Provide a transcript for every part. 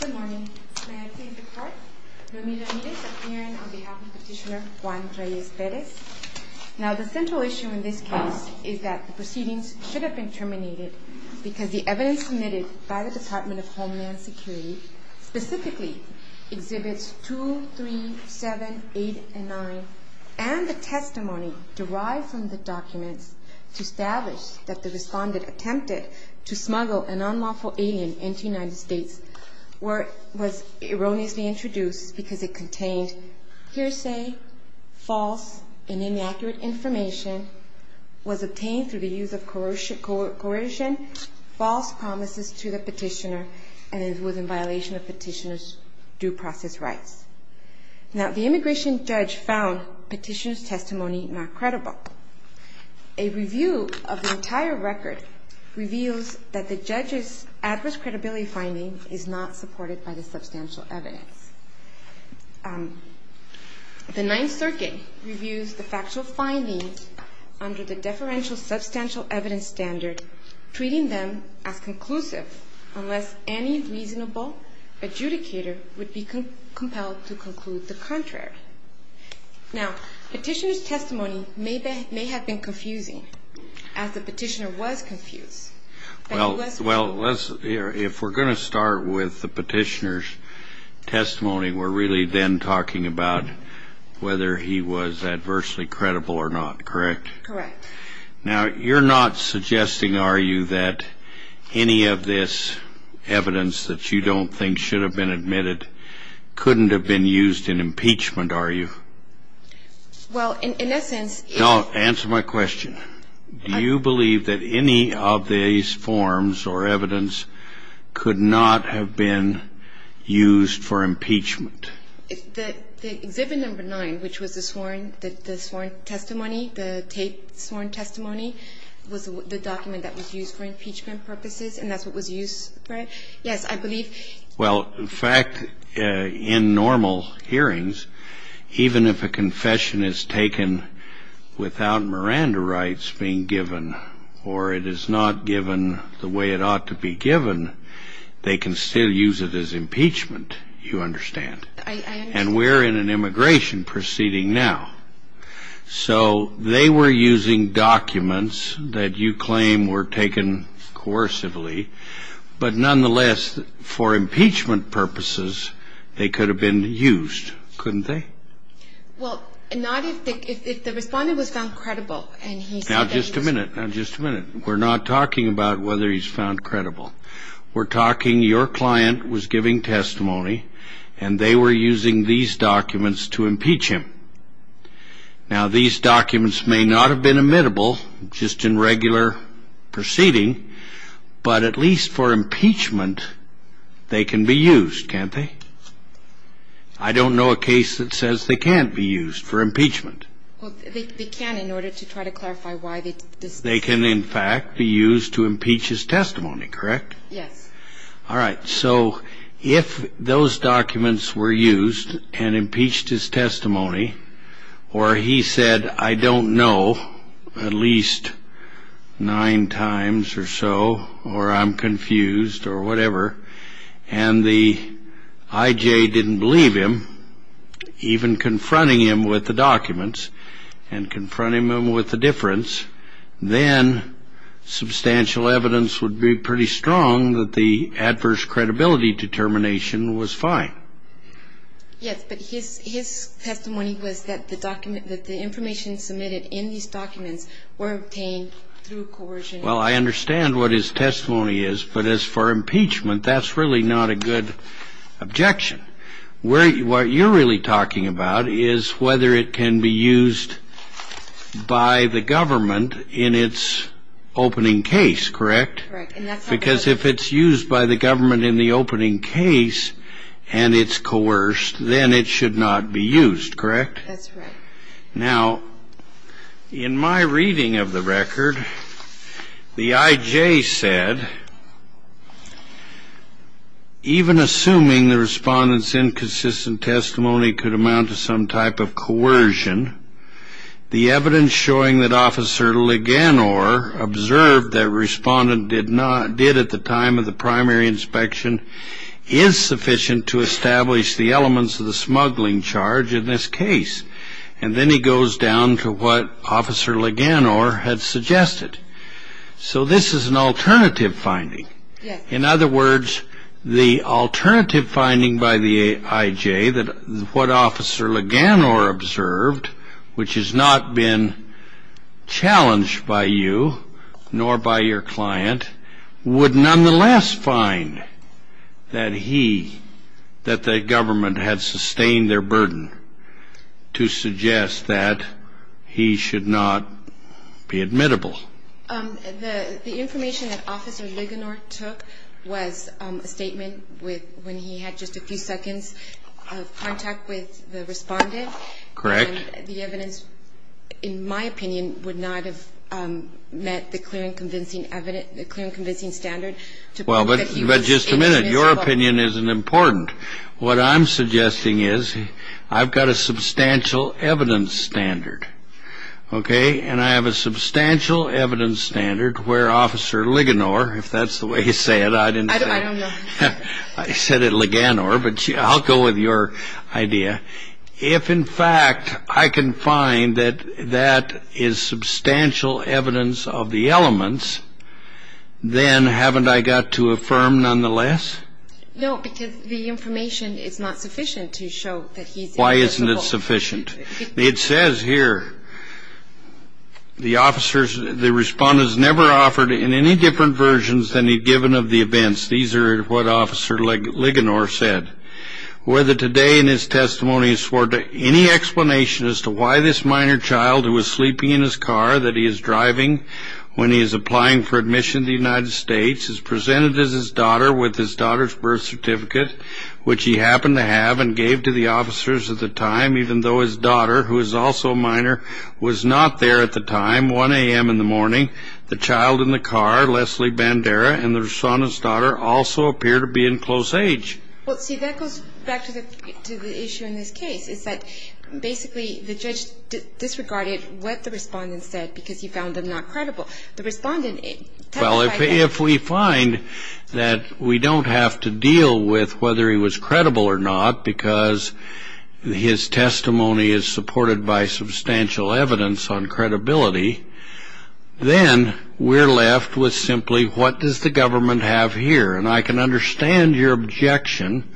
Good morning. May I please depart? Lomita Nirez, appearing on behalf of Petitioner Juan Reyes-Perez. Now the central issue in this case is that the proceedings should have been terminated because the evidence submitted by the Department of Homeland Security specifically exhibits 23789 and the testimony derived from the documents to establish that the respondent attempted to smuggle an unlawful alien into the United States was erroneously introduced because it contained hearsay, false and inaccurate information, was obtained through the use of coercion, false promises to the petitioner and was in violation of petitioner's due process rights. Now the immigration judge found petitioner's testimony not credible. A review of the entire record reveals that the judge's adverse credibility finding is not supported by the substantial evidence. The Ninth Circuit reviews the factual findings under the deferential substantial evidence standard, treating them as conclusive unless any reasonable adjudicator would be compelled to conclude the contrary. Now petitioner's testimony may have been confusing as the petitioner was confused. Well, if we're going to start with the petitioner's testimony, we're really then talking about whether he was adversely credible or not, correct? Correct. Now you're not suggesting, are you, that any of this evidence that you don't think should have been admitted couldn't have been used in impeachment, are you? Well, in essence – No, answer my question. Do you believe that any of these forms or evidence could not have been used for impeachment? The Exhibit No. 9, which was the sworn testimony, the taped sworn testimony, was the document that was used for impeachment purposes, and that's what was used for it. Yes, I believe – Well, in fact, in normal hearings, even if a confession is taken without Miranda rights being given or it is not given the way it ought to be given, they can still use it as impeachment, you understand. I understand. And we're in an immigration proceeding now. So they were using documents that you claim were taken coercively, but nonetheless, for impeachment purposes, they could have been used, couldn't they? Well, not if the respondent was found credible. Now, just a minute, now just a minute. We're not talking about whether he's found credible. We're talking your client was giving testimony, and they were using these documents to impeach him. Now, these documents may not have been admittable just in regular proceeding, but at least for impeachment, they can be used, can't they? I don't know a case that says they can't be used for impeachment. Well, they can in order to try to clarify why they did this. They can, in fact, be used to impeach his testimony, correct? Yes. All right. So if those documents were used and impeached his testimony, or he said, I don't know at least nine times or so, or I'm confused or whatever, and the IJ didn't believe him, even confronting him with the documents and confronting him with the difference, then substantial evidence would be pretty strong that the adverse credibility determination was fine. Yes, but his testimony was that the information submitted in these documents were obtained through coercion. Well, I understand what his testimony is, but as for impeachment, that's really not a good objection. What you're really talking about is whether it can be used by the government in its opening case, correct? Correct. Because if it's used by the government in the opening case and it's coerced, then it should not be used, correct? That's right. Now, in my reading of the record, the IJ said, even assuming the respondent's inconsistent testimony could amount to some type of coercion, the evidence showing that Officer Leganor observed that a respondent did at the time of the primary inspection is sufficient to establish the elements of the smuggling charge in this case. And then he goes down to what Officer Leganor had suggested. So this is an alternative finding. In other words, the alternative finding by the IJ that what Officer Leganor observed, which has not been challenged by you nor by your client, would nonetheless find that he, that the government had sustained their burden to suggest that he should not be admittable. The information that Officer Leganor took was a statement when he had just a few seconds of contact with the respondent. Correct. And the evidence, in my opinion, would not have met the clear and convincing standard to prove that he was admissible. Well, but just a minute. Your opinion isn't important. What I'm suggesting is I've got a substantial evidence standard, okay? And I have a substantial evidence standard where Officer Leganor, if that's the way you say it, I didn't say it. I don't know. I said it, Leganor, but I'll go with your idea. If, in fact, I can find that that is substantial evidence of the elements, then haven't I got to affirm nonetheless? No, because the information is not sufficient to show that he's admissible. Why isn't it sufficient? It says here, the officers, the respondents never offered in any different versions than he'd given of the events. These are what Officer Leganor said. Whether today in his testimony is for any explanation as to why this minor child who was sleeping in his car that he is driving when he is applying for admission to the United States is presented as his daughter with his daughter's birth certificate, which he happened to have and gave to the officers at the time, even though his daughter, who is also a minor, was not there at the time, 1 a.m. in the morning, the child in the car, Leslie Bandera, and the respondent's daughter also appear to be in close age. Well, see, that goes back to the issue in this case. It's that basically the judge disregarded what the respondent said because he found them not credible. The respondent testified that. Well, if we find that we don't have to deal with whether he was credible or not because his testimony is supported by substantial evidence on credibility, then we're left with simply what does the government have here? And I can understand your objection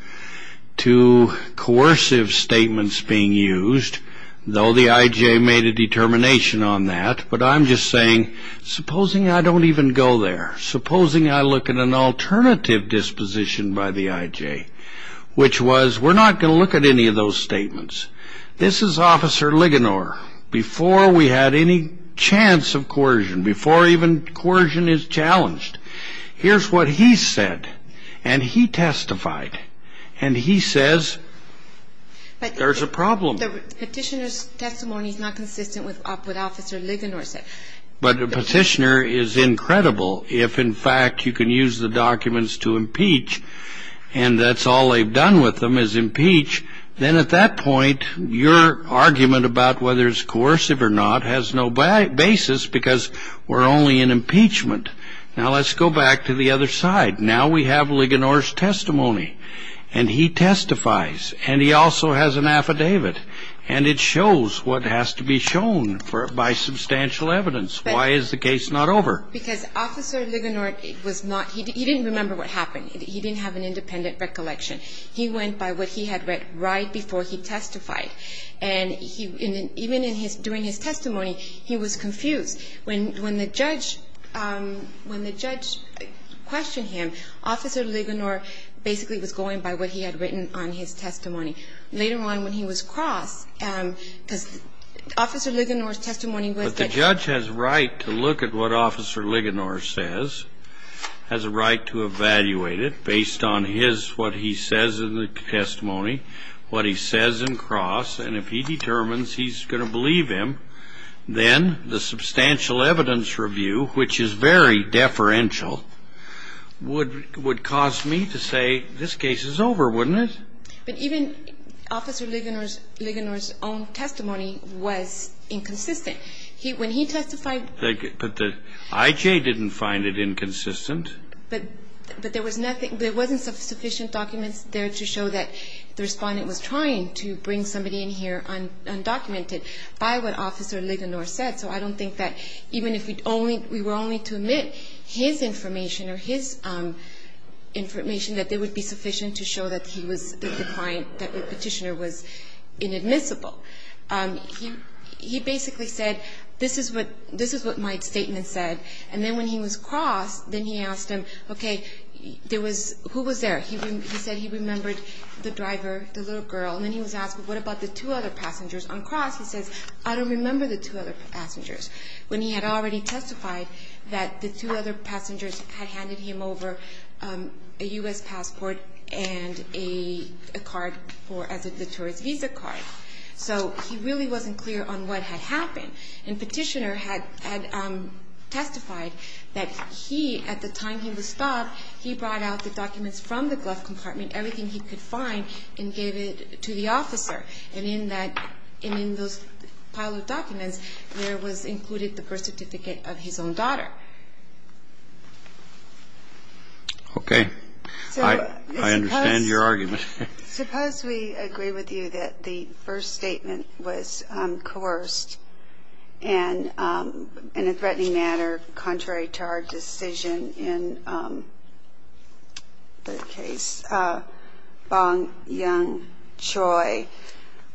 to coercive statements being used, though the I.J. made a determination on that. But I'm just saying supposing I don't even go there, supposing I look at an alternative disposition by the I.J., which was we're not going to look at any of those statements. This is Officer Leganor before we had any chance of coercion, before even coercion is challenged. Here's what he said, and he testified, and he says there's a problem. But the petitioner's testimony is not consistent with what Officer Leganor said. But a petitioner is incredible if, in fact, you can use the documents to impeach, and that's all they've done with them is impeach, then at that point your argument about whether it's coercive or not has no basis because we're only in impeachment. Now, let's go back to the other side. Now we have Leganor's testimony, and he testifies, and he also has an affidavit, and it shows what has to be shown by substantial evidence. Why is the case not over? Because Officer Leganor was not he didn't remember what happened. He didn't have an independent recollection. He went by what he had read right before he testified. And even during his testimony, he was confused. When the judge questioned him, Officer Leganor basically was going by what he had written on his testimony. Later on, when he was crossed, because Officer Leganor's testimony was that he was. But the judge has a right to look at what Officer Leganor says, has a right to evaluate it based on his, what he says in the testimony, what he says in cross. And if he determines he's going to believe him, then the substantial evidence review, which is very deferential, would cause me to say this case is over, wouldn't it? But even Officer Leganor's own testimony was inconsistent. When he testified. But the I.J. didn't find it inconsistent. But there wasn't sufficient documents there to show that the Respondent was trying to bring somebody in here undocumented by what Officer Leganor said. So I don't think that even if we were only to admit his information or his information, that it would be sufficient to show that he was the client, that the Petitioner was inadmissible. He basically said this is what my statement said. And then when he was crossed, then he asked him, okay, there was, who was there? He said he remembered the driver, the little girl. And then he was asked, well, what about the two other passengers? On cross, he says, I don't remember the two other passengers. When he had already testified that the two other passengers had handed him over a U.S. passport and a card for the tourist visa card. So he really wasn't clear on what had happened. And Petitioner had testified that he, at the time he was stopped, he brought out the documents from the glove compartment, everything he could find, and gave it to the Officer. And in that, in those pile of documents, there was included the birth certificate of his own daughter. Okay. I understand your argument. Suppose we agree with you that the first statement was coerced and in a threatening manner, contrary to our decision in the case, Bong Young Choi,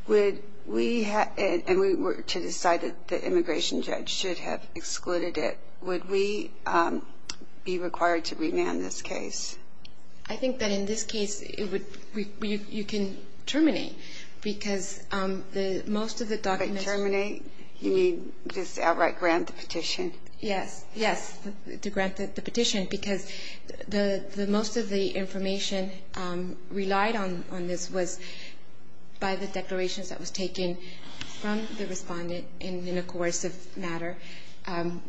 would we have, and we were to decide that the immigration judge should have excluded it, would we be required to remand this case? I think that in this case, you can terminate, because most of the documents But terminate, you mean just outright grant the petition? Yes, yes, to grant the petition, because most of the information relied on this was by the declarations that was taken from the Respondent in a coercive manner,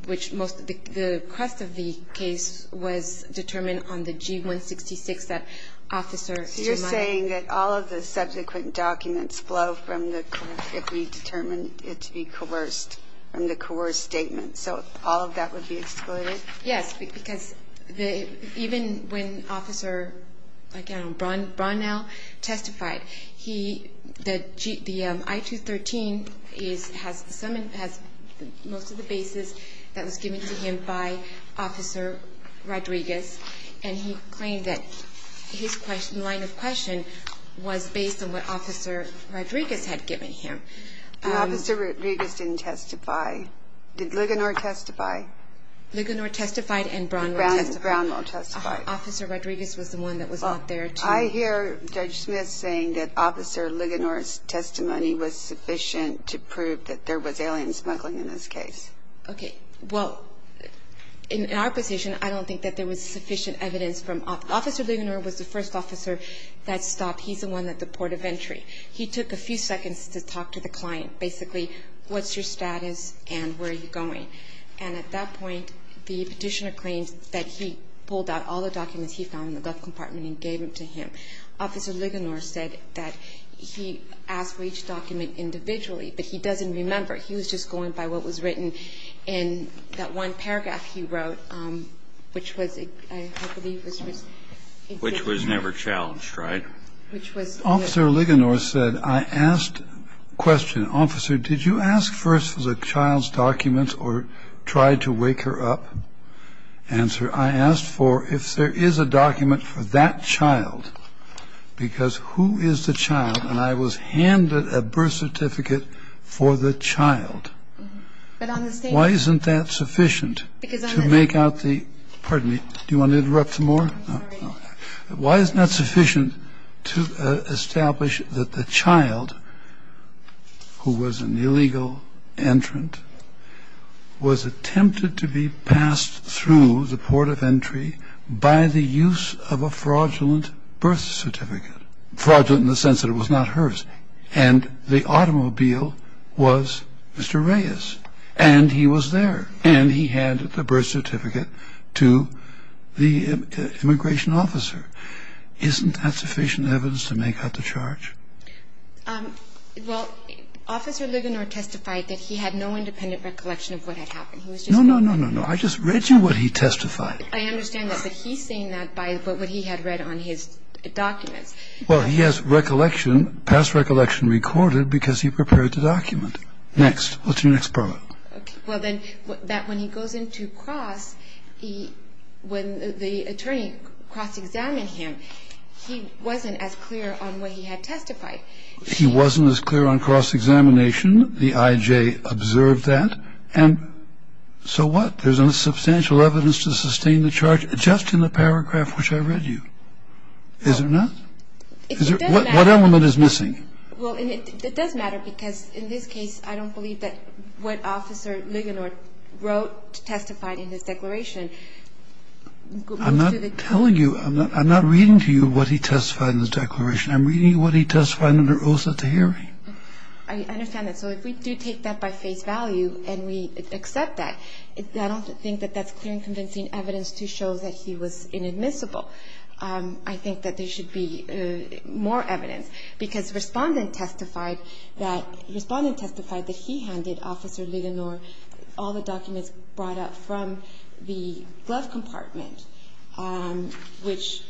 which most of the, the rest of the case was determined on the G-166 that Officer So you're saying that all of the subsequent documents flow from the, if we determined it to be coerced, from the coerced statement. So all of that would be excluded? Yes, because even when Officer, again, Bronnell testified, the I-213 has most of the basis that was given to him by Officer Rodriguez, and he claimed that his line of question was based on what Officer Rodriguez had given him. Officer Rodriguez didn't testify. Did Ligonier testify? Ligonier testified and Bronnell testified. Bronnell testified. Officer Rodriguez was the one that was out there to I hear Judge Smith saying that Officer Ligonier's testimony was sufficient to prove that there was alien smuggling in this case. Okay, well, in our position, I don't think that there was sufficient evidence from, Officer Ligonier was the first officer that stopped. He's the one at the port of entry. He took a few seconds to talk to the client. Basically, what's your status and where are you going? And at that point, the petitioner claimed that he pulled out all the documents he found in the gun compartment and gave them to him. Officer Ligonier said that he asked for each document individually, but he doesn't remember. He was just going by what was written in that one paragraph he wrote, which was, I believe, was just a statement. Which was never challenged, right? Which was, yes. Officer Ligonier said, I asked a question. Officer, did you ask first for the child's documents or try to wake her up? Answer, I asked for, if there is a document for that child, because who is the child? And I was handed a birth certificate for the child. Why isn't that sufficient to make out the, pardon me, do you want to interrupt some more? Why isn't that sufficient to establish that the child, who was an illegal entrant, was attempted to be passed through the port of entry by the use of a fraudulent birth certificate? Fraudulent in the sense that it was not hers. And the automobile was Mr. Reyes. And he was there. And he handed the birth certificate to the immigration officer. Isn't that sufficient evidence to make out the charge? Well, Officer Ligonier testified that he had no independent recollection of what had happened. No, no, no, no, no. I just read you what he testified. I understand that. But he's saying that by what he had read on his documents. Well, he has recollection, past recollection, recorded because he prepared the document. Next. What's your next part? Well, then, that when he goes into cross, when the attorney cross-examined him, he wasn't as clear on what he had testified. He wasn't as clear on cross-examination. The I.J. observed that. And so what? There's enough substantial evidence to sustain the charge just in the paragraph which I read you. Is there not? What element is missing? Well, it does matter because in this case, I don't believe that what Officer Ligonier wrote testified in his declaration. I'm not telling you. I'm not reading to you what he testified in his declaration. I'm reading what he testified under oath at the hearing. I understand that. So if we do take that by face value and we accept that, I don't think that that's clear and convincing evidence to show that he was inadmissible. I think that there should be more evidence because Respondent testified that Respondent testified that he handed Officer Ligonier all the documents brought up from the glove compartment, which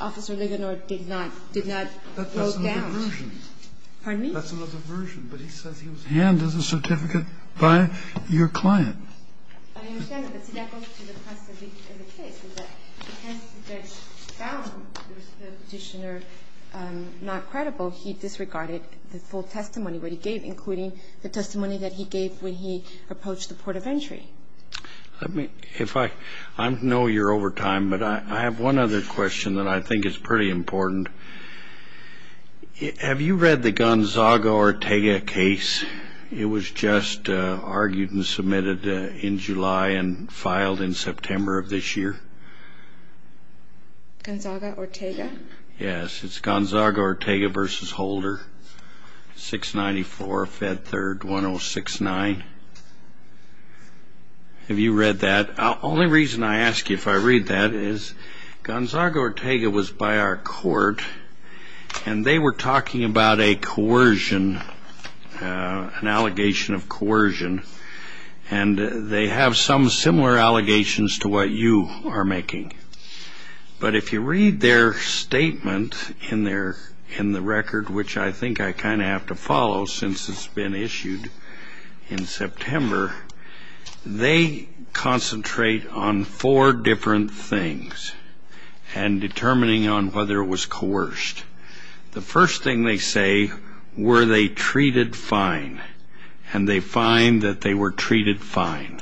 Officer Ligonier did not wrote down. That's another version. Pardon me? That's another version. But he says he was handed the certificate by your client. I understand that. But see, that goes to the crux of the case, is that since the judge found the Petitioner not credible, he disregarded the full testimony that he gave, including the testimony that he gave when he approached the port of entry. I know you're over time, but I have one other question that I think is pretty important. Have you read the Gonzaga-Ortega case? It was just argued and submitted in July and filed in September of this year. Gonzaga-Ortega? Yes, it's Gonzaga-Ortega v. Holder, 694 Fed 3rd 1069. Have you read that? The only reason I ask you if I read that is Gonzaga-Ortega was by our court, and they were talking about a coercion, an allegation of coercion, and they have some similar allegations to what you are making. But if you read their statement in the record, which I think I kind of have to follow since it's been issued in September, they concentrate on four different things and determining on whether it was coerced. The first thing they say were they treated fine, and they find that they were treated fine.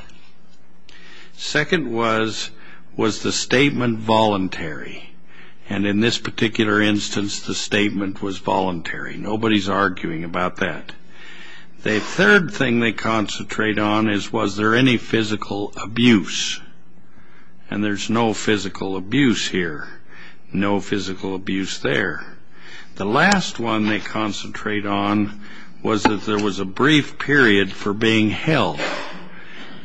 Second was, was the statement voluntary? And in this particular instance, the statement was voluntary. Nobody's arguing about that. The third thing they concentrate on is, was there any physical abuse? And there's no physical abuse here, no physical abuse there. The last one they concentrate on was that there was a brief period for being held.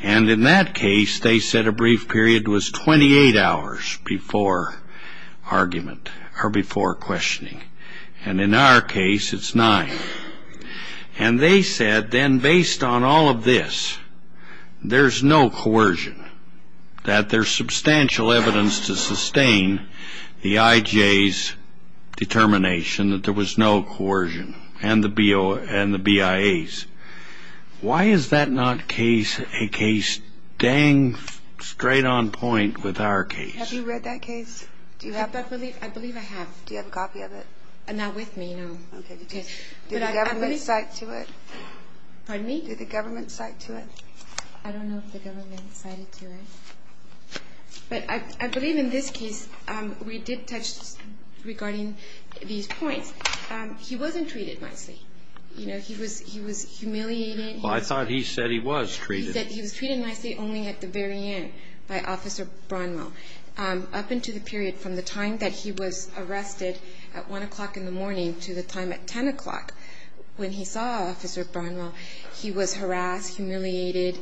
And in that case, they said a brief period was 28 hours before questioning. And in our case, it's nine. And they said then based on all of this, there's no coercion, that there's substantial evidence to sustain the IJ's determination that there was no coercion and the BIA's. Why is that not a case dang straight on point with our case? Have you read that case? Do you have that? I believe I have. Do you have a copy of it? Not with me, no. Okay. Did the government cite to it? Pardon me? Did the government cite to it? I don't know if the government cited to it. But I believe in this case, we did touch regarding these points. He wasn't treated nicely. You know, he was humiliated. Well, I thought he said he was treated. He said he was treated nicely only at the very end by Officer Bronwell. Up into the period from the time that he was arrested at 1 o'clock in the morning to the time at 10 o'clock when he saw Officer Bronwell, he was harassed, humiliated.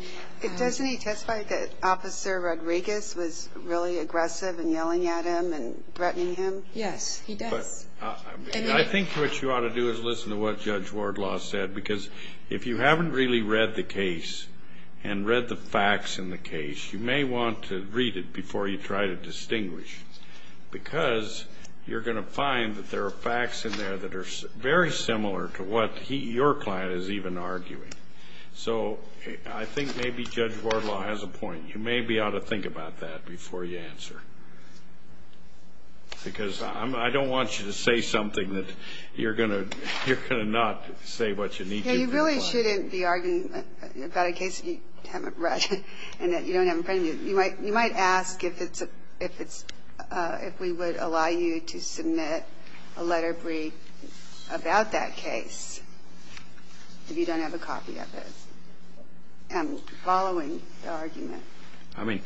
Doesn't he testify that Officer Rodriguez was really aggressive and yelling at him and threatening him? Yes, he does. I think what you ought to do is listen to what Judge Wardlaw said, because if you haven't really read the case and read the facts in the case, you may want to read it before you try to distinguish, because you're going to find that there are facts in there that are very similar to what your client is even arguing. So I think maybe Judge Wardlaw has a point. You maybe ought to think about that before you answer, because I don't want you to say something that you're going to not say what you need to. You really shouldn't be arguing about a case that you haven't read and that you don't have a friend. You might ask if it's – if we would allow you to submit a letter brief about that case if you don't have a copy of it, following the argument. I mean,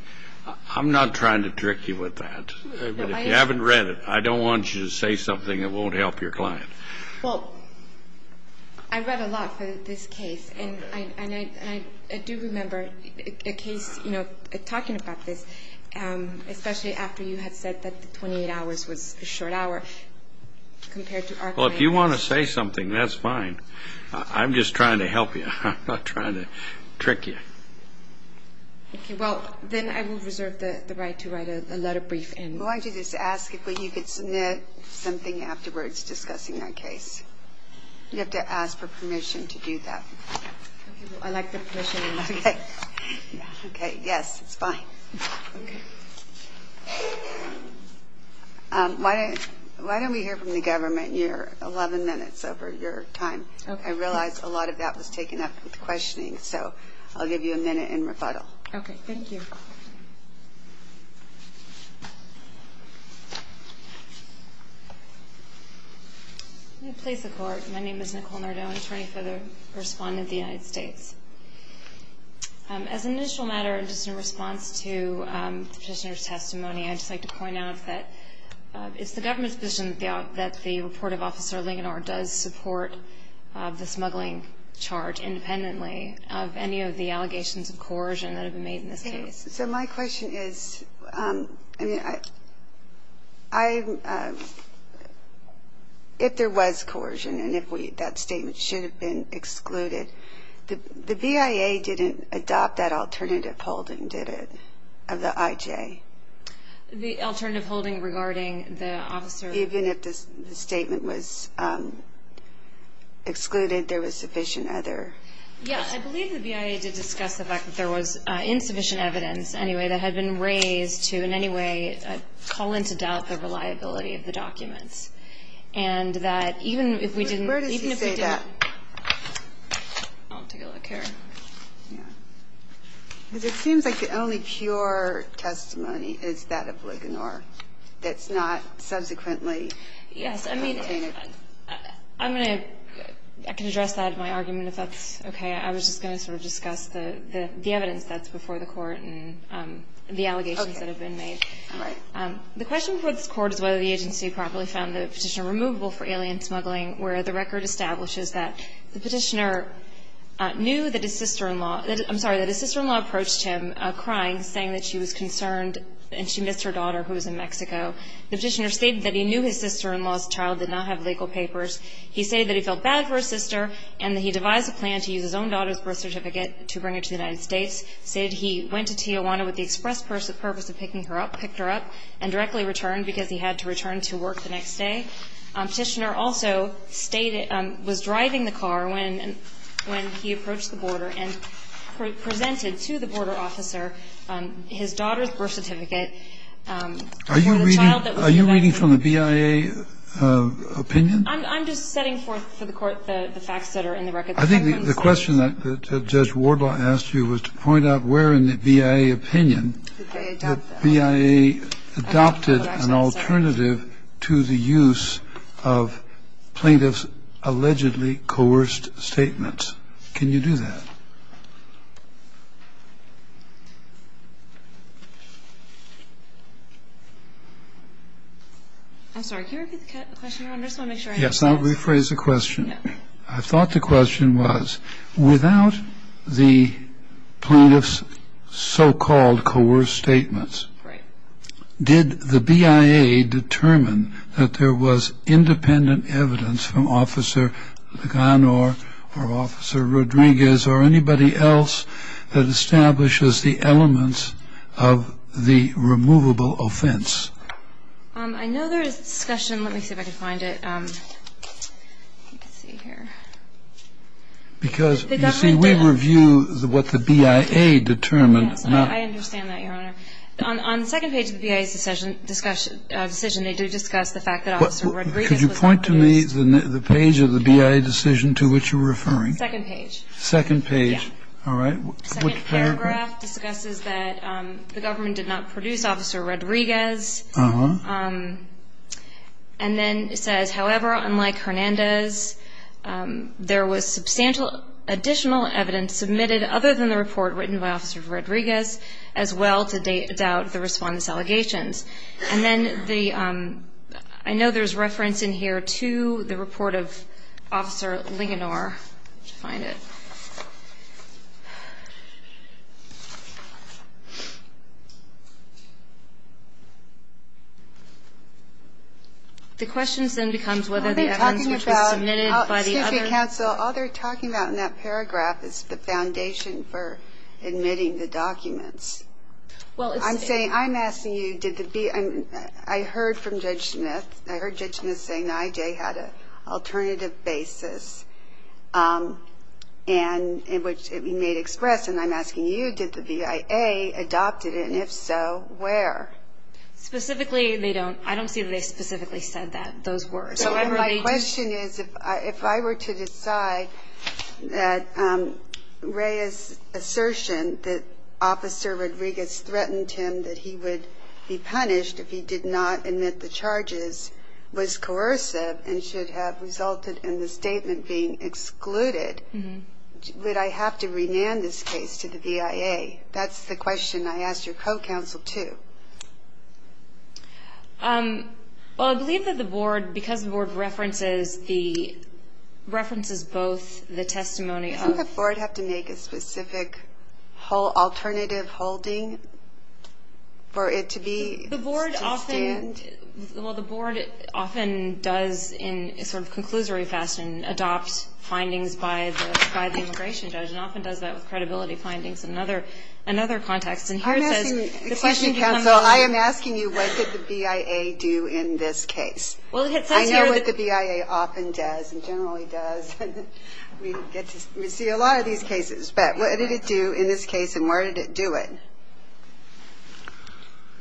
I'm not trying to trick you with that. If you haven't read it, I don't want you to say something that won't help your client. Well, I read a lot for this case, and I do remember a case, you know, talking about this, especially after you had said that the 28 hours was a short hour compared to our client. Well, if you want to say something, that's fine. I'm just trying to help you. I'm not trying to trick you. Okay. Well, then I will reserve the right to write a letter brief. Why don't you just ask if you could submit something afterwards discussing that case? You have to ask for permission to do that. I'd like the permission to do that. Okay. Okay. Yes, it's fine. Okay. Why don't we hear from the government? You're 11 minutes over your time. I realize a lot of that was taken up with questioning, so I'll give you a minute in rebuttal. Okay, thank you. May it please the Court, my name is Nicole Nardone, attorney for the respondent of the United States. As an initial matter, just in response to the petitioner's testimony, I'd just like to point out that it's the government's position that the report of Officer Ligonard does support the smuggling charge independently of any of the allegations of coercion that have been made in this case. So my question is, if there was coercion and if that statement should have been excluded, the BIA didn't adopt that alternative holding, did it, of the IJ? The alternative holding regarding the officer? Even if the statement was excluded, there was sufficient other? Yes, I believe the BIA did discuss the fact that there was insufficient evidence, anyway, that had been raised to in any way call into doubt the reliability of the documents. And that even if we didn't – Where does he say that? I'll take a look here. Because it seems like the only pure testimony is that of Ligonard that's not subsequently contained. Yes. I mean, I'm going to – I can address that in my argument if that's okay. I was just going to sort of discuss the evidence that's before the Court and the allegations that have been made. Okay. All right. The question before this Court is whether the agency properly found the petitioner knew that his sister-in-law – I'm sorry, that his sister-in-law approached him crying, saying that she was concerned and she missed her daughter who was in Mexico. The petitioner stated that he knew his sister-in-law's child did not have legal papers. He stated that he felt bad for his sister and that he devised a plan to use his own daughter's birth certificate to bring her to the United States. He stated he went to Tijuana with the express purpose of picking her up, picked her up, and directly returned because he had to return to work the next day. The petitioner also stated – was driving the car when he approached the border and presented to the border officer his daughter's birth certificate for the child that was in Mexico. Are you reading from the BIA opinion? I'm just setting forth for the Court the facts that are in the record. I think the question that Judge Wardlaw asked you was to point out where in the BIA opinion that BIA adopted an alternative to the use of plaintiffs' allegedly coerced statements. Can you do that? I'm sorry. Can you repeat the question, Your Honor? I just want to make sure I understand this. Yes. I'll rephrase the question. statements. Right. Did the BIA determine that there was independent evidence from Officer Leganor or Officer Rodriguez or anybody else that establishes the elements of the removable offense? I know there is discussion. Let me see if I can find it. Let's see here. Because, you see, we review what the BIA determined. I understand that, Your Honor. On the second page of the BIA's decision, they do discuss the fact that Officer Rodriguez was not produced. Could you point to me the page of the BIA decision to which you were referring? Second page. Second page. Yes. All right. Which paragraph? The second paragraph discusses that the government did not produce Officer Rodriguez. Uh-huh. And then it says, however, unlike Hernandez, there was substantial additional evidence submitted other than the report written by Officer Rodriguez, as well to doubt the respondent's allegations. And then I know there's reference in here to the report of Officer Leganor. Let me find it. The question then becomes whether the evidence which was submitted by the other counsel, all they're talking about in that paragraph is the foundation for admitting the documents. I'm asking you, I heard from Judge Smith. I heard Judge Smith say NIJ had an alternative basis in which it may express, and I'm asking you, did the BIA adopt it? And if so, where? Specifically, I don't see that they specifically said those words. My question is, if I were to decide that Reyes' assertion that Officer Rodriguez threatened him that he would be punished if he did not admit the charges was coercive and should have resulted in the statement being excluded, would I have to rename this case to the BIA? That's the question I asked your co-counsel, too. Well, I believe that the board, because the board references both the testimony of Doesn't the board have to make a specific alternative holding for it to be? The board often does in a sort of conclusory fashion adopt findings by the immigration judge and often does that with credibility findings in another context. Excuse me, counsel. I am asking you, what did the BIA do in this case? I know what the BIA often does and generally does. We see a lot of these cases, but what did it do in this case and where did it do it?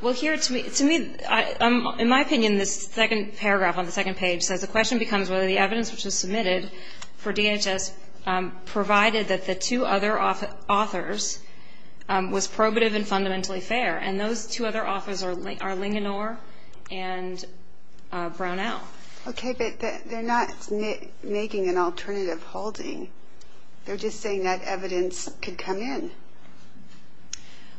Well, here, to me, in my opinion, this second paragraph on the second page says, the question becomes whether the evidence which was submitted for DHS provided that the two other authors was probative and fundamentally fair, and those two other authors are Linganore and Brownell. Okay, but they're not making an alternative holding. They're just saying that evidence could come in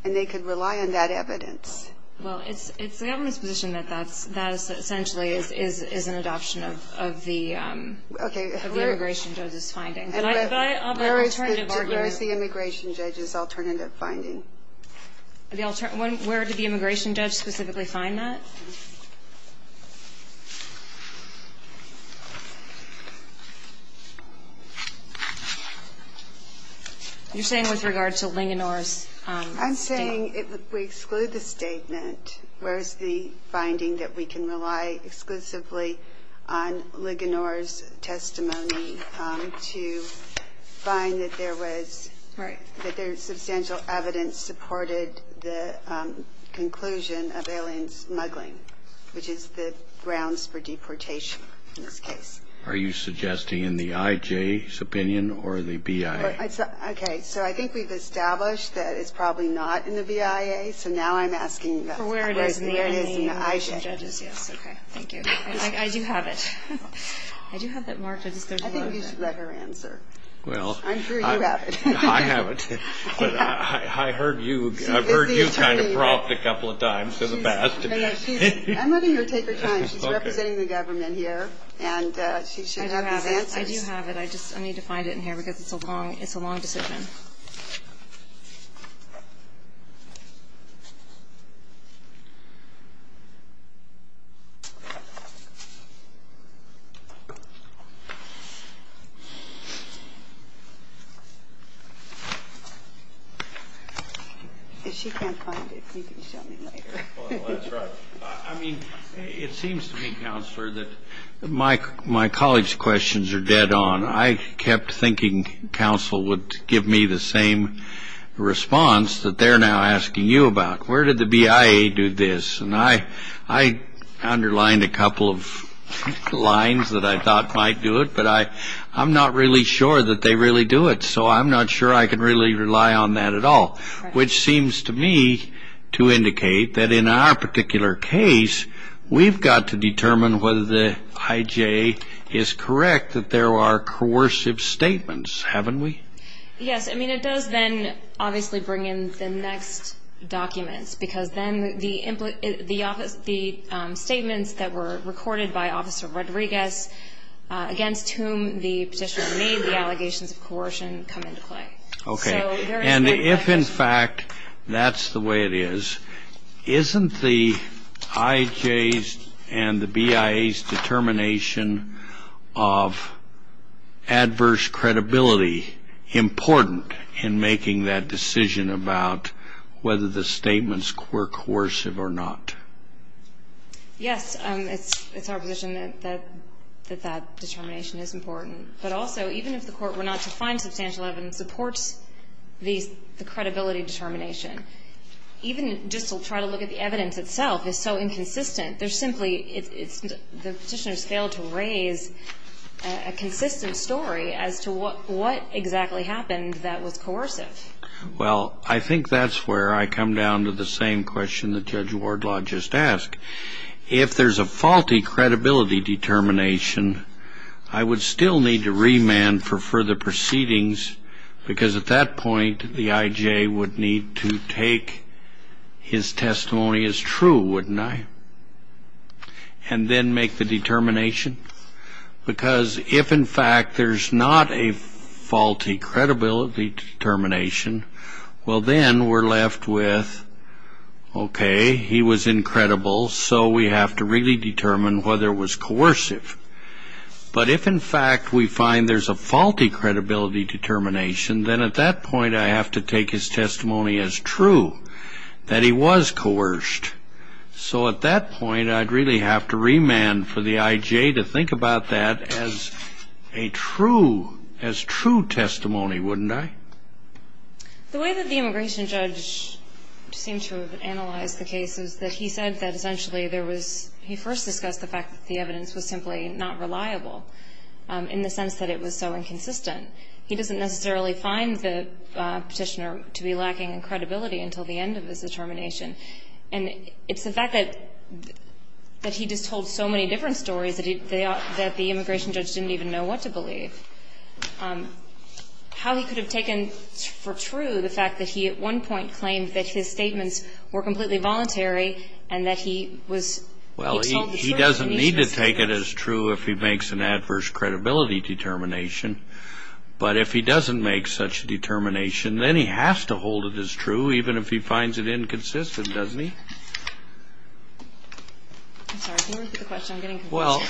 and they could rely on that evidence. Well, it's the government's position that that essentially is an adoption of the immigration judge's finding. But I have an alternative argument. Where is the immigration judge's alternative finding? Where did the immigration judge specifically find that? You're saying with regard to Linganore's statement? I'm saying if we exclude the statement, where is the finding that we can rely exclusively on Linganore's testimony to find that there was substantial evidence supported the conclusion of alien smuggling, which is the grounds for deportation in this case. Are you suggesting in the IJ's opinion or the BIA? Okay. So I think we've established that it's probably not in the BIA. Okay. So now I'm asking where it is in the IJ. Okay. Thank you. I do have it. I do have it marked. I think you should let her answer. I'm sure you have it. I have it. I've heard you kind of prompt a couple of times in the past. I'm letting her take her time. She's representing the government here, and she should have these answers. I do have it. I do have it. I just need to find it in here because it's a long decision. If she can't find it, you can show me later. Well, that's right. It seems to me, Counselor, that my colleagues' questions are dead on. I kept thinking counsel would give me the same response that they're now asking you about. Where did the BIA do this? And I underlined a couple of lines that I thought might do it, but I'm not really sure that they really do it, so I'm not sure I can really rely on that at all, which seems to me to indicate that in our particular case, we've got to determine whether the IJ is correct that there are coercive statements, haven't we? Yes. I mean, it does then obviously bring in the next documents because then the statements that were recorded by Officer Rodriguez, against whom the petitioner made the allegations of coercion, come into play. Okay. And if, in fact, that's the way it is, isn't the IJ's and the BIA's determination of adverse credibility important in making that decision about whether the statements were coercive or not? Yes. It's our position that that determination is important. But also, even if the court were not to find substantial evidence that supports the credibility determination, even just to try to look at the evidence itself is so inconsistent. There's simply the petitioner's failed to raise a consistent story as to what exactly happened that was coercive. Well, I think that's where I come down to the same question that Judge Wardlaw just asked. If there's a faulty credibility determination, I would still need to remand for further proceedings because at that point the IJ would need to take his testimony as true, wouldn't I, and then make the determination. Because if, in fact, there's not a faulty credibility determination, well, then we're left with, okay, he was incredible, so we have to really determine whether it was coercive. But if, in fact, we find there's a faulty credibility determination, then at that point I have to take his testimony as true, that he was coerced. So at that point I'd really have to remand for the IJ to think about that as a true, as true testimony, wouldn't I? The way that the immigration judge seemed to analyze the case is that he said that essentially there was he first discussed the fact that the evidence was simply not reliable in the sense that it was so inconsistent. He doesn't necessarily find the petitioner to be lacking in credibility until the end of his determination. And it's the fact that he just told so many different stories that the immigration judge didn't even know what to believe. How he could have taken for true the fact that he, at one point, claimed that his statements were completely voluntary and that he was Well, he doesn't need to take it as true if he makes an adverse credibility determination. But if he doesn't make such a determination, then he has to hold it as true even if he finds it inconsistent, doesn't he? I'm sorry. Well,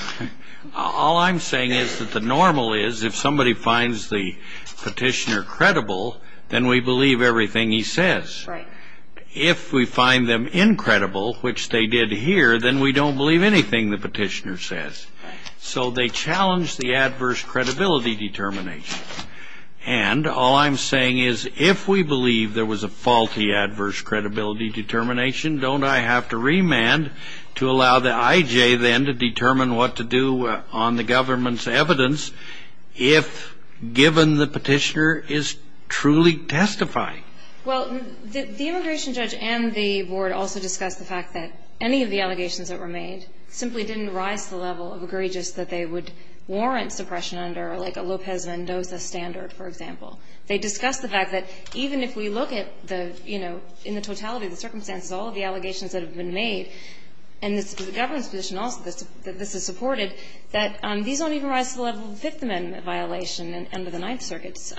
all I'm saying is that the normal is if somebody finds the petitioner credible, then we believe everything he says. If we find them incredible, which they did here, then we don't believe anything the petitioner says. So they challenge the adverse credibility determination. And all I'm saying is if we believe there was a faulty adverse credibility determination, don't I have to remand to allow the IJ then to determine what to do on the government's evidence if given the petitioner is truly testifying? Well, the immigration judge and the board also discussed the fact that any of the allegations that were made simply didn't rise to the level of egregious that they would warrant suppression under, like, a Lopez Mendoza standard, for example. They discussed the fact that even if we look at the, you know, in the totality of the circumstances, all of the allegations that have been made, and the government's position also that this is supported, that these don't even rise to the level of Fifth Amendment violation under the Ninth Circuit's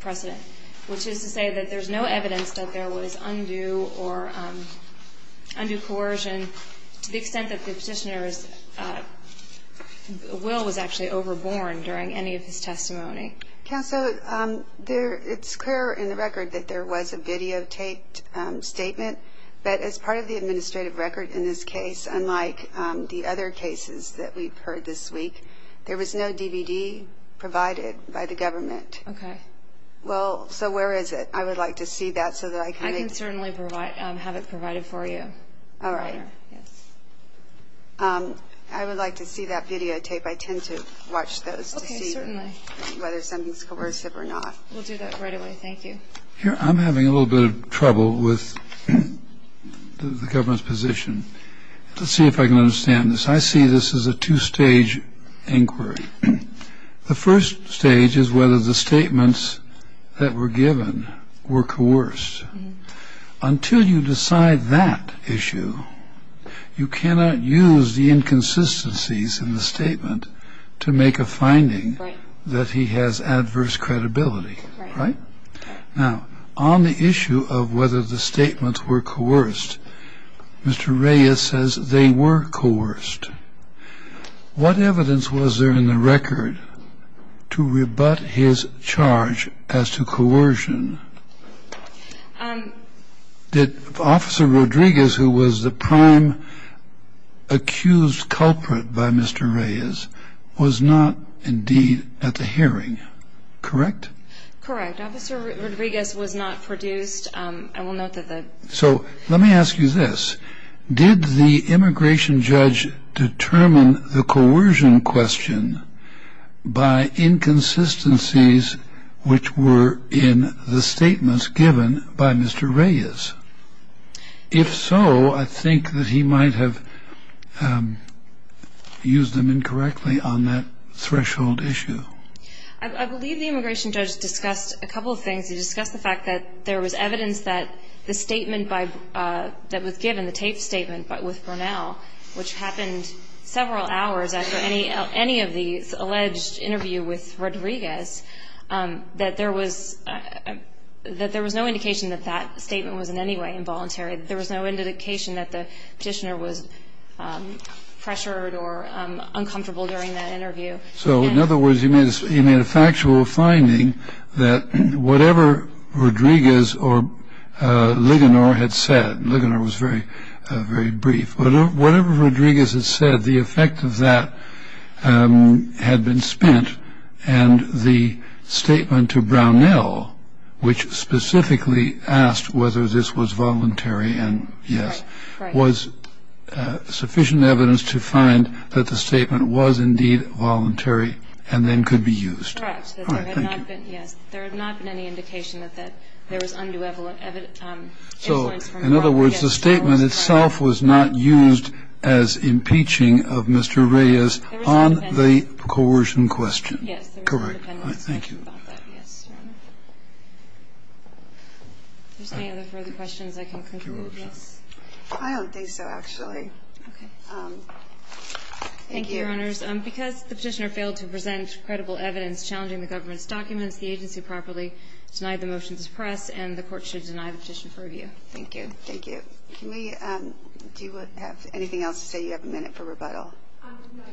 precedent, which is to say that there's no evidence that there was undue or undue coercion to the extent that the petitioner's will was actually overborne during any of his testimony. Counsel, it's clear in the record that there was a videotaped statement, but as part of the administrative record in this case, unlike the other cases that we've heard this week, there was no DVD provided by the government. Okay. Well, so where is it? I would like to see that so that I can make... I can certainly have it provided for you. All right. I would like to see that videotape. I tend to watch those to see... We'll do that right away. Thank you. Here, I'm having a little bit of trouble with the government's position. Let's see if I can understand this. I see this as a two-stage inquiry. The first stage is whether the statements that were given were coerced. Until you decide that issue, you cannot use the inconsistencies in the statement to make a finding that he has adverse credibility, right? Now, on the issue of whether the statements were coerced, Mr. Reyes says they were coerced. What evidence was there in the record to rebut his charge as to coercion? Did Officer Rodriguez, who was the prime accused culprit by Mr. Reyes, was not indeed at the hearing, correct? Correct. Officer Rodriguez was not produced. I will note that the... So let me ask you this. Did the immigration judge determine the coercion question by inconsistencies which were in the statements given by Mr. Reyes? If so, I think that he might have used them incorrectly on that threshold issue. I believe the immigration judge discussed a couple of things. He discussed the fact that there was evidence that the statement that was given, the taped statement with Brunel, which happened several hours after any of the alleged interview with Rodriguez, that there was no indication that that statement was in any way involuntary. There was no indication that the petitioner was pressured or uncomfortable during that interview. So, in other words, you made a factual finding that whatever Rodriguez or Ligonier had said, and Ligonier was very brief, whatever Rodriguez had said, the effect of that had been spent, and the statement to Brunel, which specifically asked whether this was voluntary and yes, was sufficient evidence to find that the statement was indeed voluntary and then could be used. Correct. There had not been any indication that there was undue influence from Brunel. In other words, the statement itself was not used as impeaching of Mr. Reyes on the coercion question. Correct. Thank you. Is there any other further questions I can conclude? Yes. I don't think so, actually. Okay. Thank you. Thank you, Your Honors. Because the petitioner failed to present credible evidence challenging the government's documents, the agency properly denied the motion to suppress, and the Court should Thank you. Do you have anything else to say? You have a minute for rebuttal. No, Your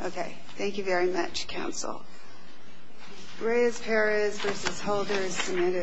Honor. Okay. Thank you very much, Counsel. Reyes-Perez v. Holder, submitted.